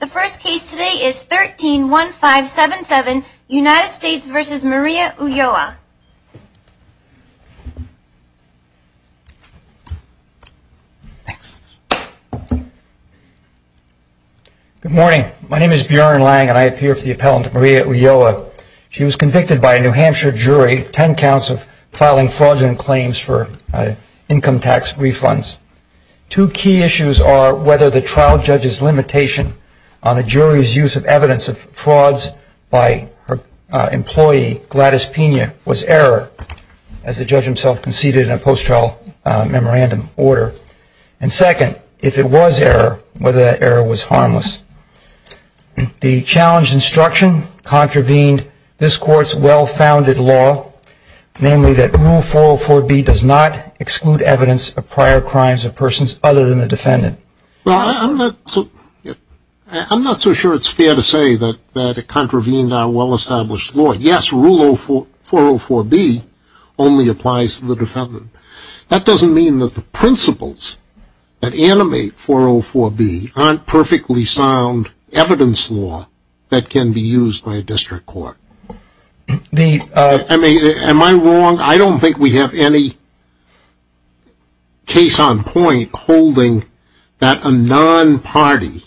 The first case today is 13-1577, United States v. Maria Ulloa. Good morning. My name is Bjorn Lange and I appear for the appellant to Maria Ulloa. She was convicted by a New Hampshire jury, 10 counts of filing fraudulent claims for income tax refunds. Two key issues are whether the trial judge's limitation on the jury's use of evidence of frauds by her employee, Gladys Pena, was error, as the judge himself conceded in a post-trial memorandum order. And second, if it was error, whether that error was harmless. The challenged instruction contravened this court's well-founded law, namely that Rule 404B does not exclude evidence of prior crimes of persons other than the defendant. Well, I'm not so sure it's fair to say that it contravened our well-established law. Yes, Rule 404B only applies to the defendant. That doesn't mean that the principles that animate 404B aren't perfectly sound evidence law that can be used by a district court. I mean, am I wrong? I don't think we have any case on point holding that a non-party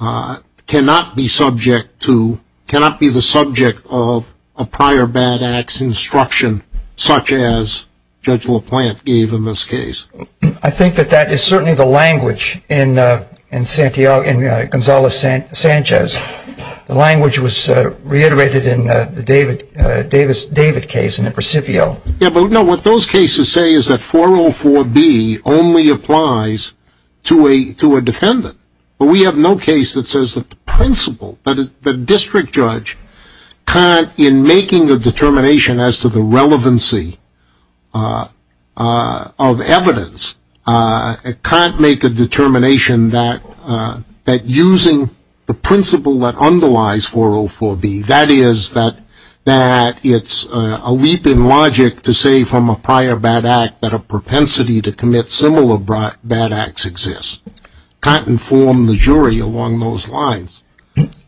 cannot be the subject of a prior bad act's instruction such as Judge LaPlante gave in this case. I think that that is certainly the language in Gonzales-Sanchez. The language was reiterated in the Davis-David case in the Presidio. Yeah, but what those cases say is that 404B only applies to a defendant. But we have no case that says that the principle, that a district judge can't, in making a determination as to the relevancy of evidence, can't make a determination that using the principle that underlies 404B, that is that it's a leap in logic to say from a prior bad act that a propensity to commit similar bad acts exists, can't inform the jury along those lines.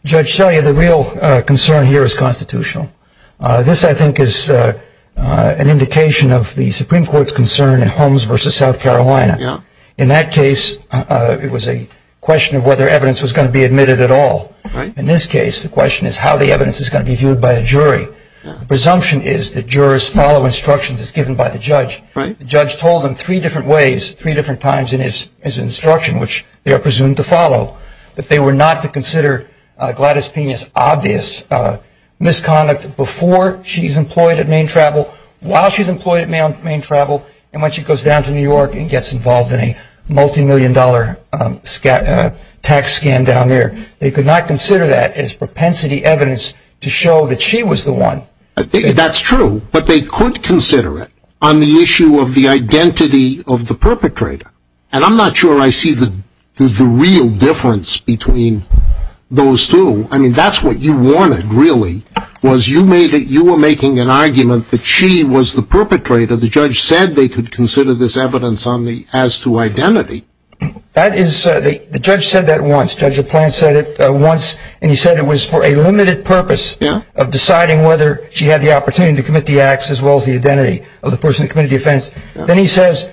Judge Shelley, the real concern here is constitutional. This, I think, is an indication of the Supreme Court's concern in Holmes v. South Carolina. In that case, it was a question of whether evidence was going to be admitted at all. In this case, the question is how the evidence is going to be viewed by a jury. The presumption is that jurors follow instructions as given by the judge. The judge told them three different ways, three different times in his instruction, which they are presumed to follow, that they were not to consider Gladys Pena's obvious misconduct before she's employed at Maine Travel, while she's employed at Maine Travel, and when she goes down to New York and gets involved in a multimillion-dollar tax scam down there. They could not consider that as propensity evidence to show that she was the one. That's true, but they could consider it on the issue of the identity of the perpetrator. And I'm not sure I see the real difference between those two. I mean, that's what you wanted, really, was you were making an argument that she was the perpetrator. The judge said they could consider this evidence as to identity. The judge said that once. Judge LaPlante said it once, and he said it was for a limited purpose of deciding whether she had the opportunity to commit the acts Then he says,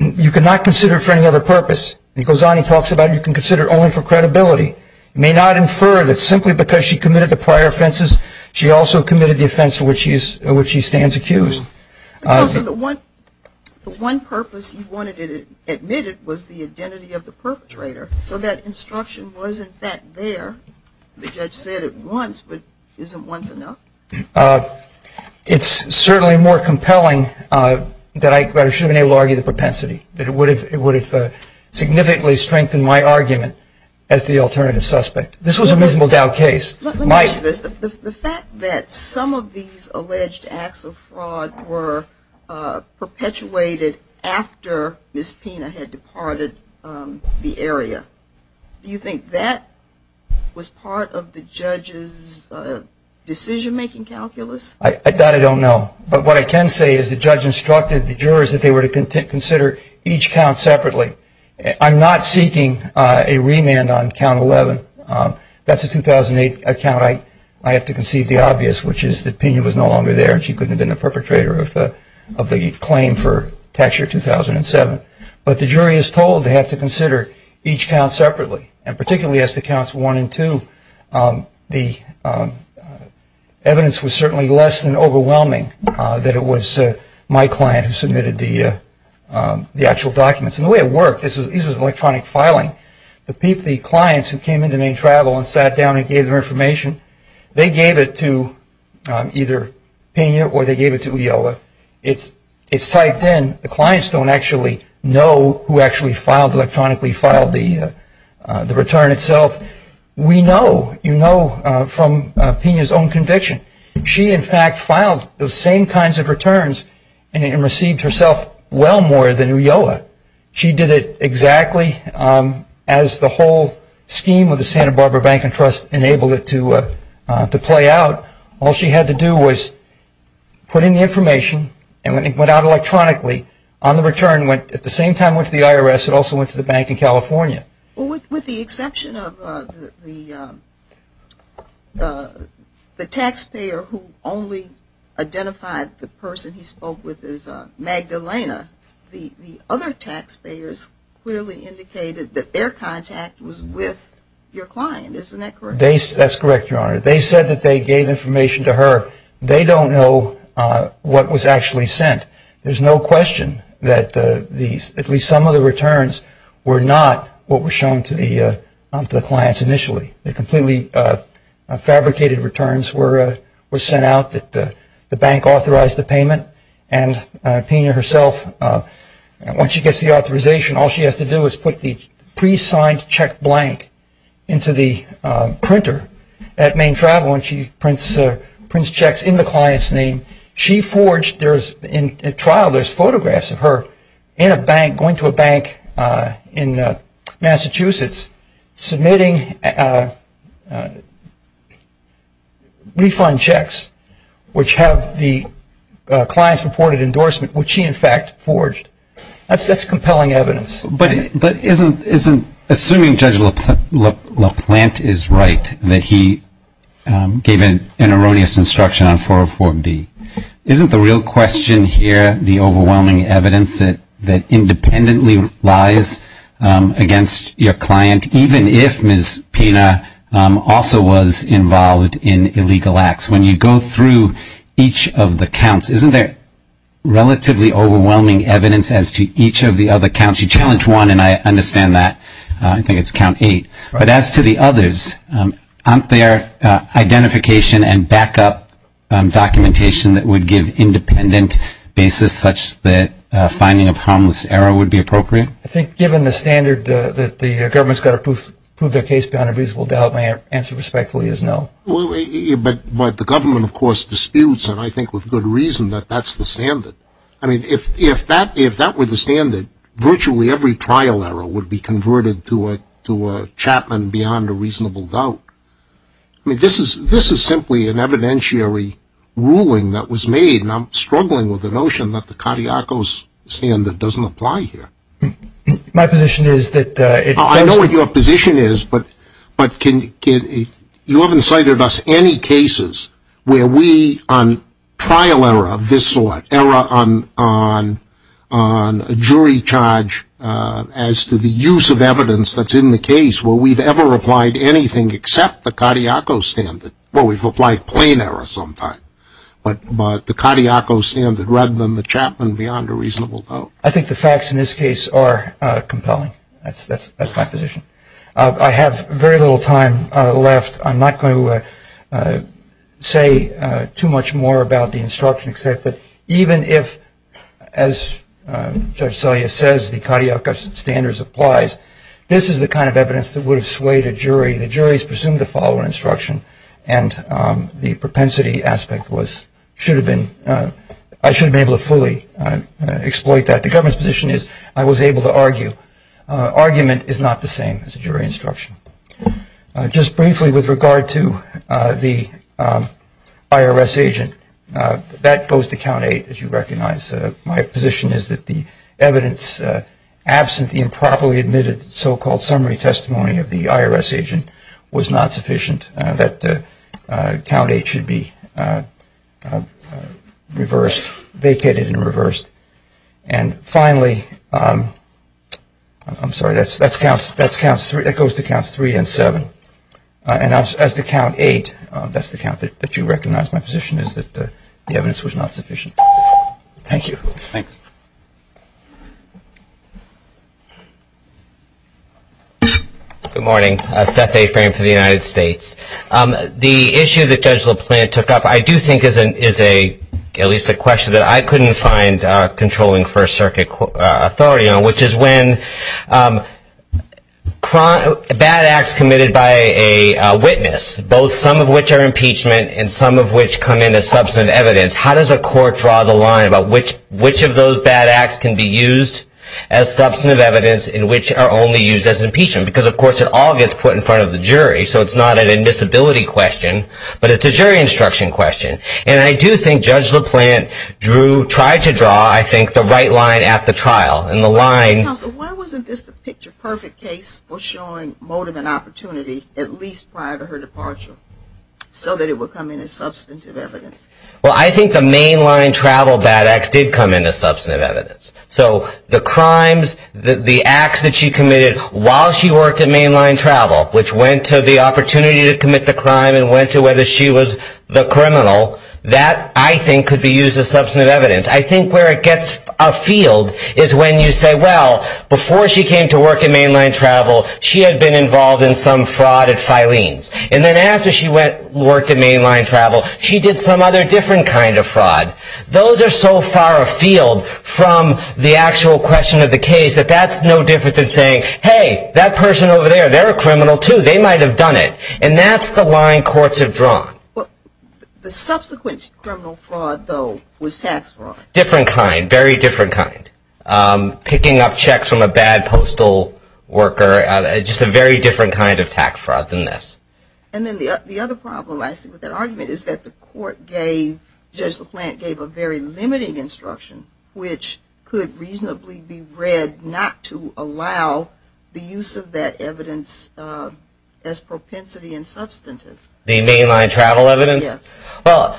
you cannot consider it for any other purpose. He goes on, he talks about you can consider it only for credibility. You may not infer that simply because she committed the prior offenses, she also committed the offense for which she stands accused. So the one purpose he wanted it admitted was the identity of the perpetrator, so that instruction wasn't that there. The judge said it once, but isn't once enough? It's certainly more compelling that I should have been able to argue the propensity, that it would have significantly strengthened my argument as the alternative suspect. This was a miserable Dow case. Let me ask you this. The fact that some of these alleged acts of fraud were perpetuated after Ms. Pena had departed the area, do you think that was part of the judge's decision-making calculus? I doubt I don't know. But what I can say is the judge instructed the jurors that they were to consider each count separately. I'm not seeking a remand on count 11. That's a 2008 account. I have to concede the obvious, which is that Pena was no longer there and she couldn't have been the perpetrator of the claim for tax year 2007. But the jury is told they have to consider each count separately, and particularly as to counts 1 and 2, the evidence was certainly less than overwhelming that it was my client who submitted the actual documents. And the way it worked, this was electronic filing. The clients who came into Maine Travel and sat down and gave their information, they gave it to either Pena or they gave it to Ulloa. It's typed in. The clients don't actually know who actually filed, electronically filed the return itself. We know, you know from Pena's own conviction. She, in fact, filed those same kinds of returns and received herself well more than Ulloa. She did it exactly as the whole scheme of the Santa Barbara Bank and Trust enabled it to play out. All she had to do was put in the information and when it went out electronically, on the return, at the same time it went to the IRS, it also went to the bank in California. With the exception of the taxpayer who only identified the person he spoke with as Magdalena, the other taxpayers clearly indicated that their contact was with your client. Isn't that correct? That's correct, Your Honor. They said that they gave information to her. They don't know what was actually sent. There's no question that at least some of the returns were not what were shown to the clients initially. The completely fabricated returns were sent out that the bank authorized the payment and Pena herself, once she gets the authorization, all she has to do is put the pre-signed check blank into the printer at Main Travel and she prints checks in the client's name. She forged, in trial there's photographs of her in a bank, going to a bank in Massachusetts, submitting refund checks which have the client's reported endorsement, which she, in fact, forged. That's compelling evidence. But assuming Judge LaPlante is right, that he gave an erroneous instruction on 404B, isn't the real question here the overwhelming evidence that independently lies against your client, even if Ms. Pena also was involved in illegal acts? When you go through each of the counts, isn't there relatively overwhelming evidence as to each of the other counts? You challenge one, and I understand that. I think it's count eight. But as to the others, aren't there identification and backup documentation that would give independent basis such that finding of harmless error would be appropriate? I think given the standard that the government's got to prove their case beyond a reasonable doubt, my answer respectfully is no. But the government, of course, disputes, and I think with good reason, that that's the standard. I mean, if that were the standard, virtually every trial error would be converted to a Chapman beyond a reasonable doubt. I mean, this is simply an evidentiary ruling that was made, and I'm struggling with the notion that the Katiakos standard doesn't apply here. My position is that it does. I know what your position is, but you haven't cited us any cases where we, on trial error of this sort, error on a jury charge as to the use of evidence that's in the case, where we've ever applied anything except the Katiakos standard. Well, we've applied plain error sometimes, but the Katiakos standard rather than the Chapman beyond a reasonable doubt. I think the facts in this case are compelling. That's my position. I have very little time left. I'm not going to say too much more about the instruction except that even if, as Judge Selye says, the Katiakos standard applies, this is the kind of evidence that would have swayed a jury. The juries presumed the following instruction, and the propensity aspect was I should have been able to fully exploit that. The government's position is I was able to argue. Argument is not the same as a jury instruction. Just briefly with regard to the IRS agent, that goes to count eight, as you recognize. My position is that the evidence absent the improperly admitted so-called summary testimony of the IRS agent was not sufficient, that count eight should be reversed, vacated and reversed. And finally, I'm sorry, that goes to counts three and seven. And as to count eight, that's the count that you recognize. My position is that the evidence was not sufficient. Thank you. Thanks. Good morning. Seth A. Frame for the United States. The issue that Judge LaPlante took up I do think is at least a question that I couldn't find controlling First Circuit authority on, which is when bad acts committed by a witness, both some of which are impeachment and some of which come in as substantive evidence, how does a court draw the line about which of those bad acts can be used as substantive evidence and which are only used as impeachment? Because, of course, it all gets put in front of the jury, so it's not an admissibility question, but it's a jury instruction question. And I do think Judge LaPlante tried to draw, I think, the right line at the trial. Counsel, why wasn't this the picture perfect case for showing motive and opportunity at least prior to her departure so that it would come in as substantive evidence? Well, I think the mainline travel bad acts did come in as substantive evidence. So the crimes, the acts that she committed while she worked at mainline travel, which went to the opportunity to commit the crime and went to whether she was the criminal, that I think could be used as substantive evidence. I think where it gets a field is when you say, well, before she came to work at mainline travel, she had been involved in some fraud at Filene's. And then after she worked at mainline travel, she did some other different kind of fraud. Those are so far afield from the actual question of the case that that's no different than saying, hey, that person over there, they're a criminal too. They might have done it. And that's the line courts have drawn. The subsequent criminal fraud, though, was tax fraud. Different kind. Very different kind. Picking up checks from a bad postal worker. Just a very different kind of tax fraud than this. And then the other problem I see with that argument is that the court gave, Judge LaPlante gave a very limiting instruction, which could reasonably be read not to allow the use of that evidence as propensity and substantive. The mainline travel evidence? Yes. Well,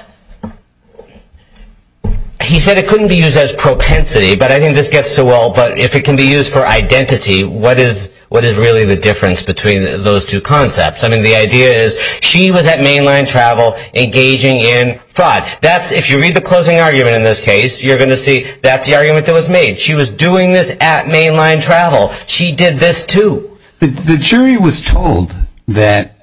he said it couldn't be used as propensity, but I think this gets to, well, but if it can be used for identity, what is really the difference between those two concepts? I mean, the idea is she was at mainline travel engaging in fraud. If you read the closing argument in this case, you're going to see that's the argument that was made. She was doing this at mainline travel. She did this too. The jury was told that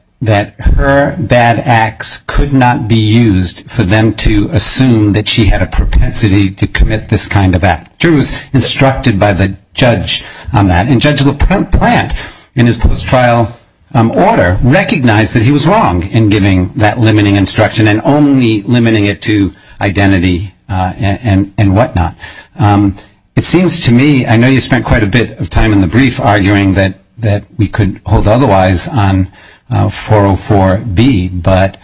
her bad acts could not be used for them to assume that she had a propensity to commit this kind of act. The jury was instructed by the judge on that, and Judge LaPlante, in his post-trial order, recognized that he was wrong in giving that limiting instruction and only limiting it to identity and whatnot. It seems to me, I know you spent quite a bit of time in the brief arguing that we could hold otherwise on 404B, but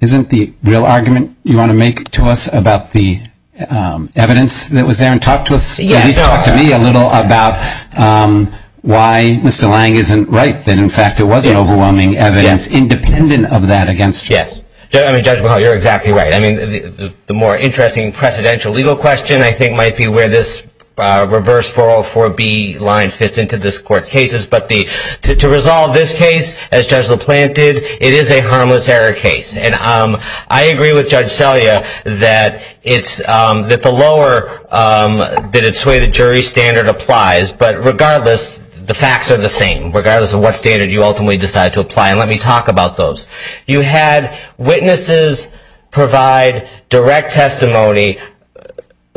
isn't the real argument you want to make to us about the evidence that was there and talk to us, at least talk to me a little about why Mr. Lange isn't right that, in fact, it was an overwhelming evidence independent of that against you? Yes. I mean, Judge Mahoney, you're exactly right. I mean, the more interesting presidential legal question, I think, might be where this reverse 404B line fits into this court's cases. But to resolve this case, as Judge LaPlante did, it is a harmless error case. And I agree with Judge Selya that the lower that it's swayed the jury standard applies. But regardless, the facts are the same, regardless of what standard you ultimately decide to apply. And let me talk about those. You had witnesses provide direct testimony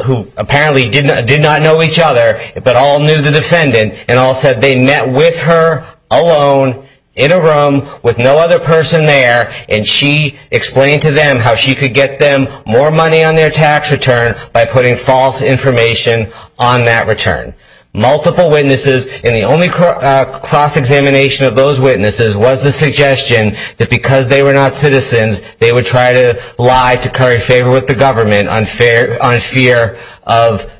who apparently did not know each other, but all knew the defendant, and all said they met with her alone in a room with no other person there, and she explained to them how she could get them more money on their tax return by putting false information on that return. Multiple witnesses, and the only cross-examination of those witnesses was the suggestion that because they were not citizens, they would try to lie to curry favor with the government on fear of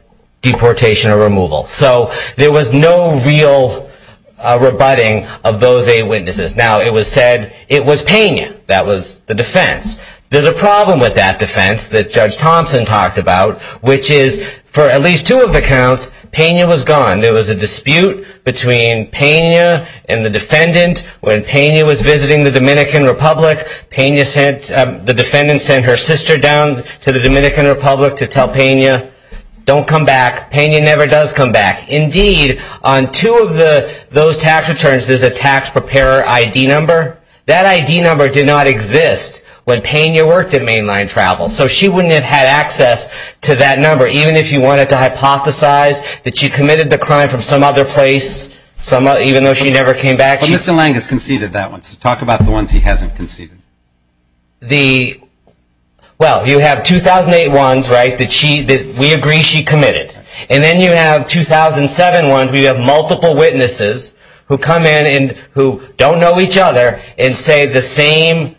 deportation or removal. So there was no real rebutting of those eight witnesses. Now, it was said it was Pena that was the defense. There's a problem with that defense that Judge Thompson talked about, which is for at least two of the counts, Pena was gone. There was a dispute between Pena and the defendant. When Pena was visiting the Dominican Republic, the defendant sent her sister down to the Dominican Republic to tell Pena, don't come back. Pena never does come back. Indeed, on two of those tax returns, there's a tax preparer ID number. That ID number did not exist when Pena worked at Mainline Travel. So she wouldn't have had access to that number, even if you wanted to hypothesize that she committed the crime from some other place, even though she never came back. But Mr. Lange has conceded that one, so talk about the ones he hasn't conceded. Well, you have 2008 ones, right, that we agree she committed. And then you have 2007 ones where you have multiple witnesses who come in and who don't know each other and say the same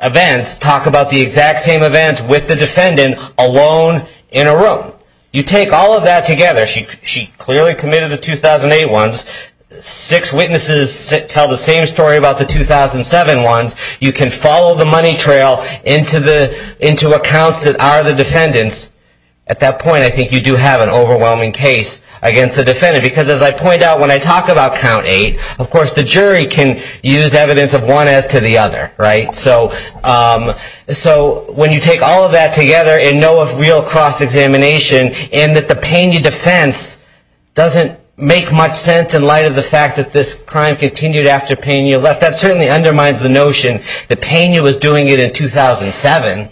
events, talk about the exact same events with the defendant alone in a room. You take all of that together. She clearly committed the 2008 ones. Six witnesses tell the same story about the 2007 ones. You can follow the money trail into accounts that are the defendant's. At that point, I think you do have an overwhelming case against the defendant. Because as I point out, when I talk about count eight, of course, the jury can use evidence of one as to the other, right? So when you take all of that together and know of real cross-examination and that the Pena defense doesn't make much sense in light of the fact that this crime continued after Pena left, that certainly undermines the notion that Pena was doing it in 2007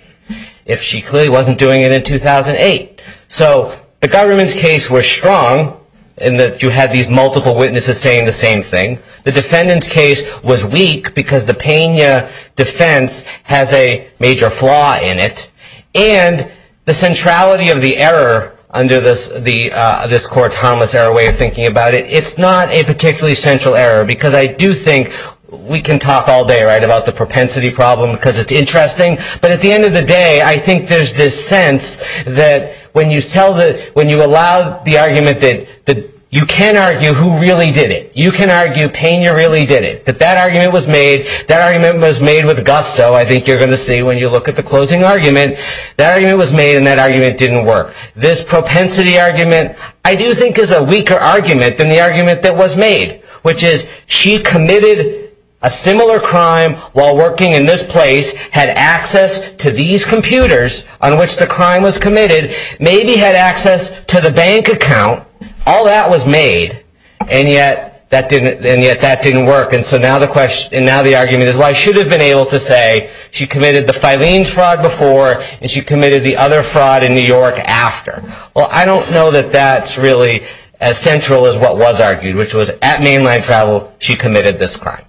if she clearly wasn't doing it in 2008. So the government's case was strong in that you had these multiple witnesses saying the same thing. The defendant's case was weak because the Pena defense has a major flaw in it. And the centrality of the error under this court's harmless error way of thinking about it, it's not a particularly central error because I do think we can talk all day, right, about the propensity problem because it's interesting. But at the end of the day, I think there's this sense that when you allow the argument that you can argue who really did it. You can argue Pena really did it. That that argument was made. That argument was made with gusto. I think you're going to see when you look at the closing argument. That argument was made and that argument didn't work. This propensity argument I do think is a weaker argument than the argument that was made, which is she committed a similar crime while working in this place, had access to these computers on which the crime was committed, maybe had access to the bank account. All that was made and yet that didn't work. And so now the argument is, well, I should have been able to say she committed the Filene's fraud before and she committed the other fraud in New York after. Well, I don't know that that's really as central as what was argued, which was at mainline travel she committed this crime.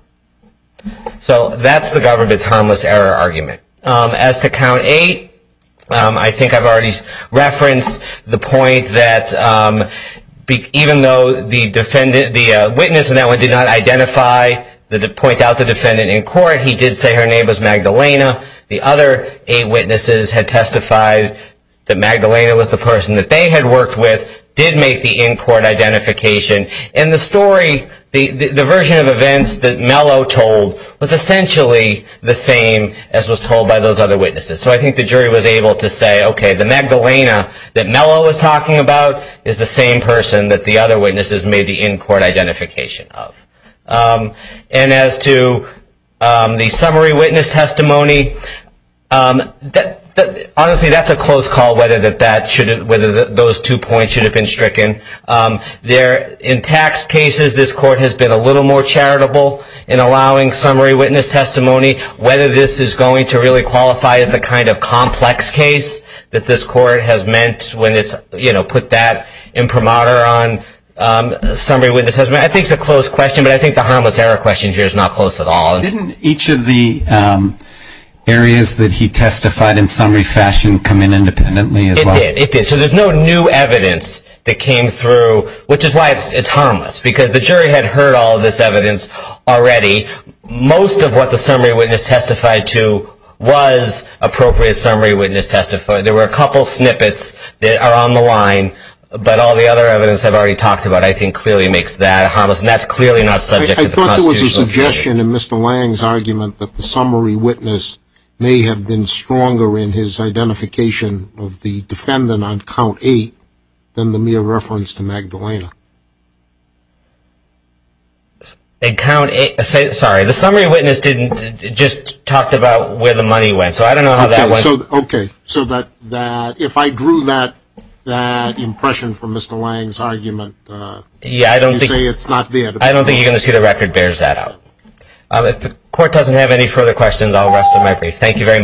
So that's the government's harmless error argument. As to count eight, I think I've already referenced the point that even though the witness in that one did not point out the defendant in court, he did say her name was Magdalena, the other eight witnesses had testified that Magdalena was the person that they had worked with, did make the in-court identification. And the story, the version of events that Mello told was essentially the same as was told by those other witnesses. So I think the jury was able to say, okay, the Magdalena that Mello was talking about is the same person that the other witnesses made the in-court identification of. And as to the summary witness testimony, honestly, that's a close call whether those two points should have been stricken. In tax cases, this court has been a little more charitable in allowing summary witness testimony, whether this is going to really qualify as the kind of complex case that this court has meant when it's put that imprimatur on summary witnesses. I think it's a close question, but I think the harmless error question here is not close at all. Didn't each of the areas that he testified in summary fashion come in independently as well? It did. So there's no new evidence that came through, which is why it's harmless, because the jury had heard all of this evidence already. Most of what the summary witness testified to was appropriate summary witness testimony. There were a couple snippets that are on the line, but all the other evidence I've already talked about, I think, clearly makes that harmless, and that's clearly not subject to the constitution. I thought there was a suggestion in Mr. Lang's argument that the summary witness may have been stronger in his identification of the defendant on count eight than the mere reference to Magdalena. Sorry, the summary witness just talked about where the money went, so I don't know how that went. Okay, so if I drew that impression from Mr. Lang's argument, you say it's not there. I don't think you're going to see the record bears that out. If the court doesn't have any further questions, I'll rest my brief. Thank you very much.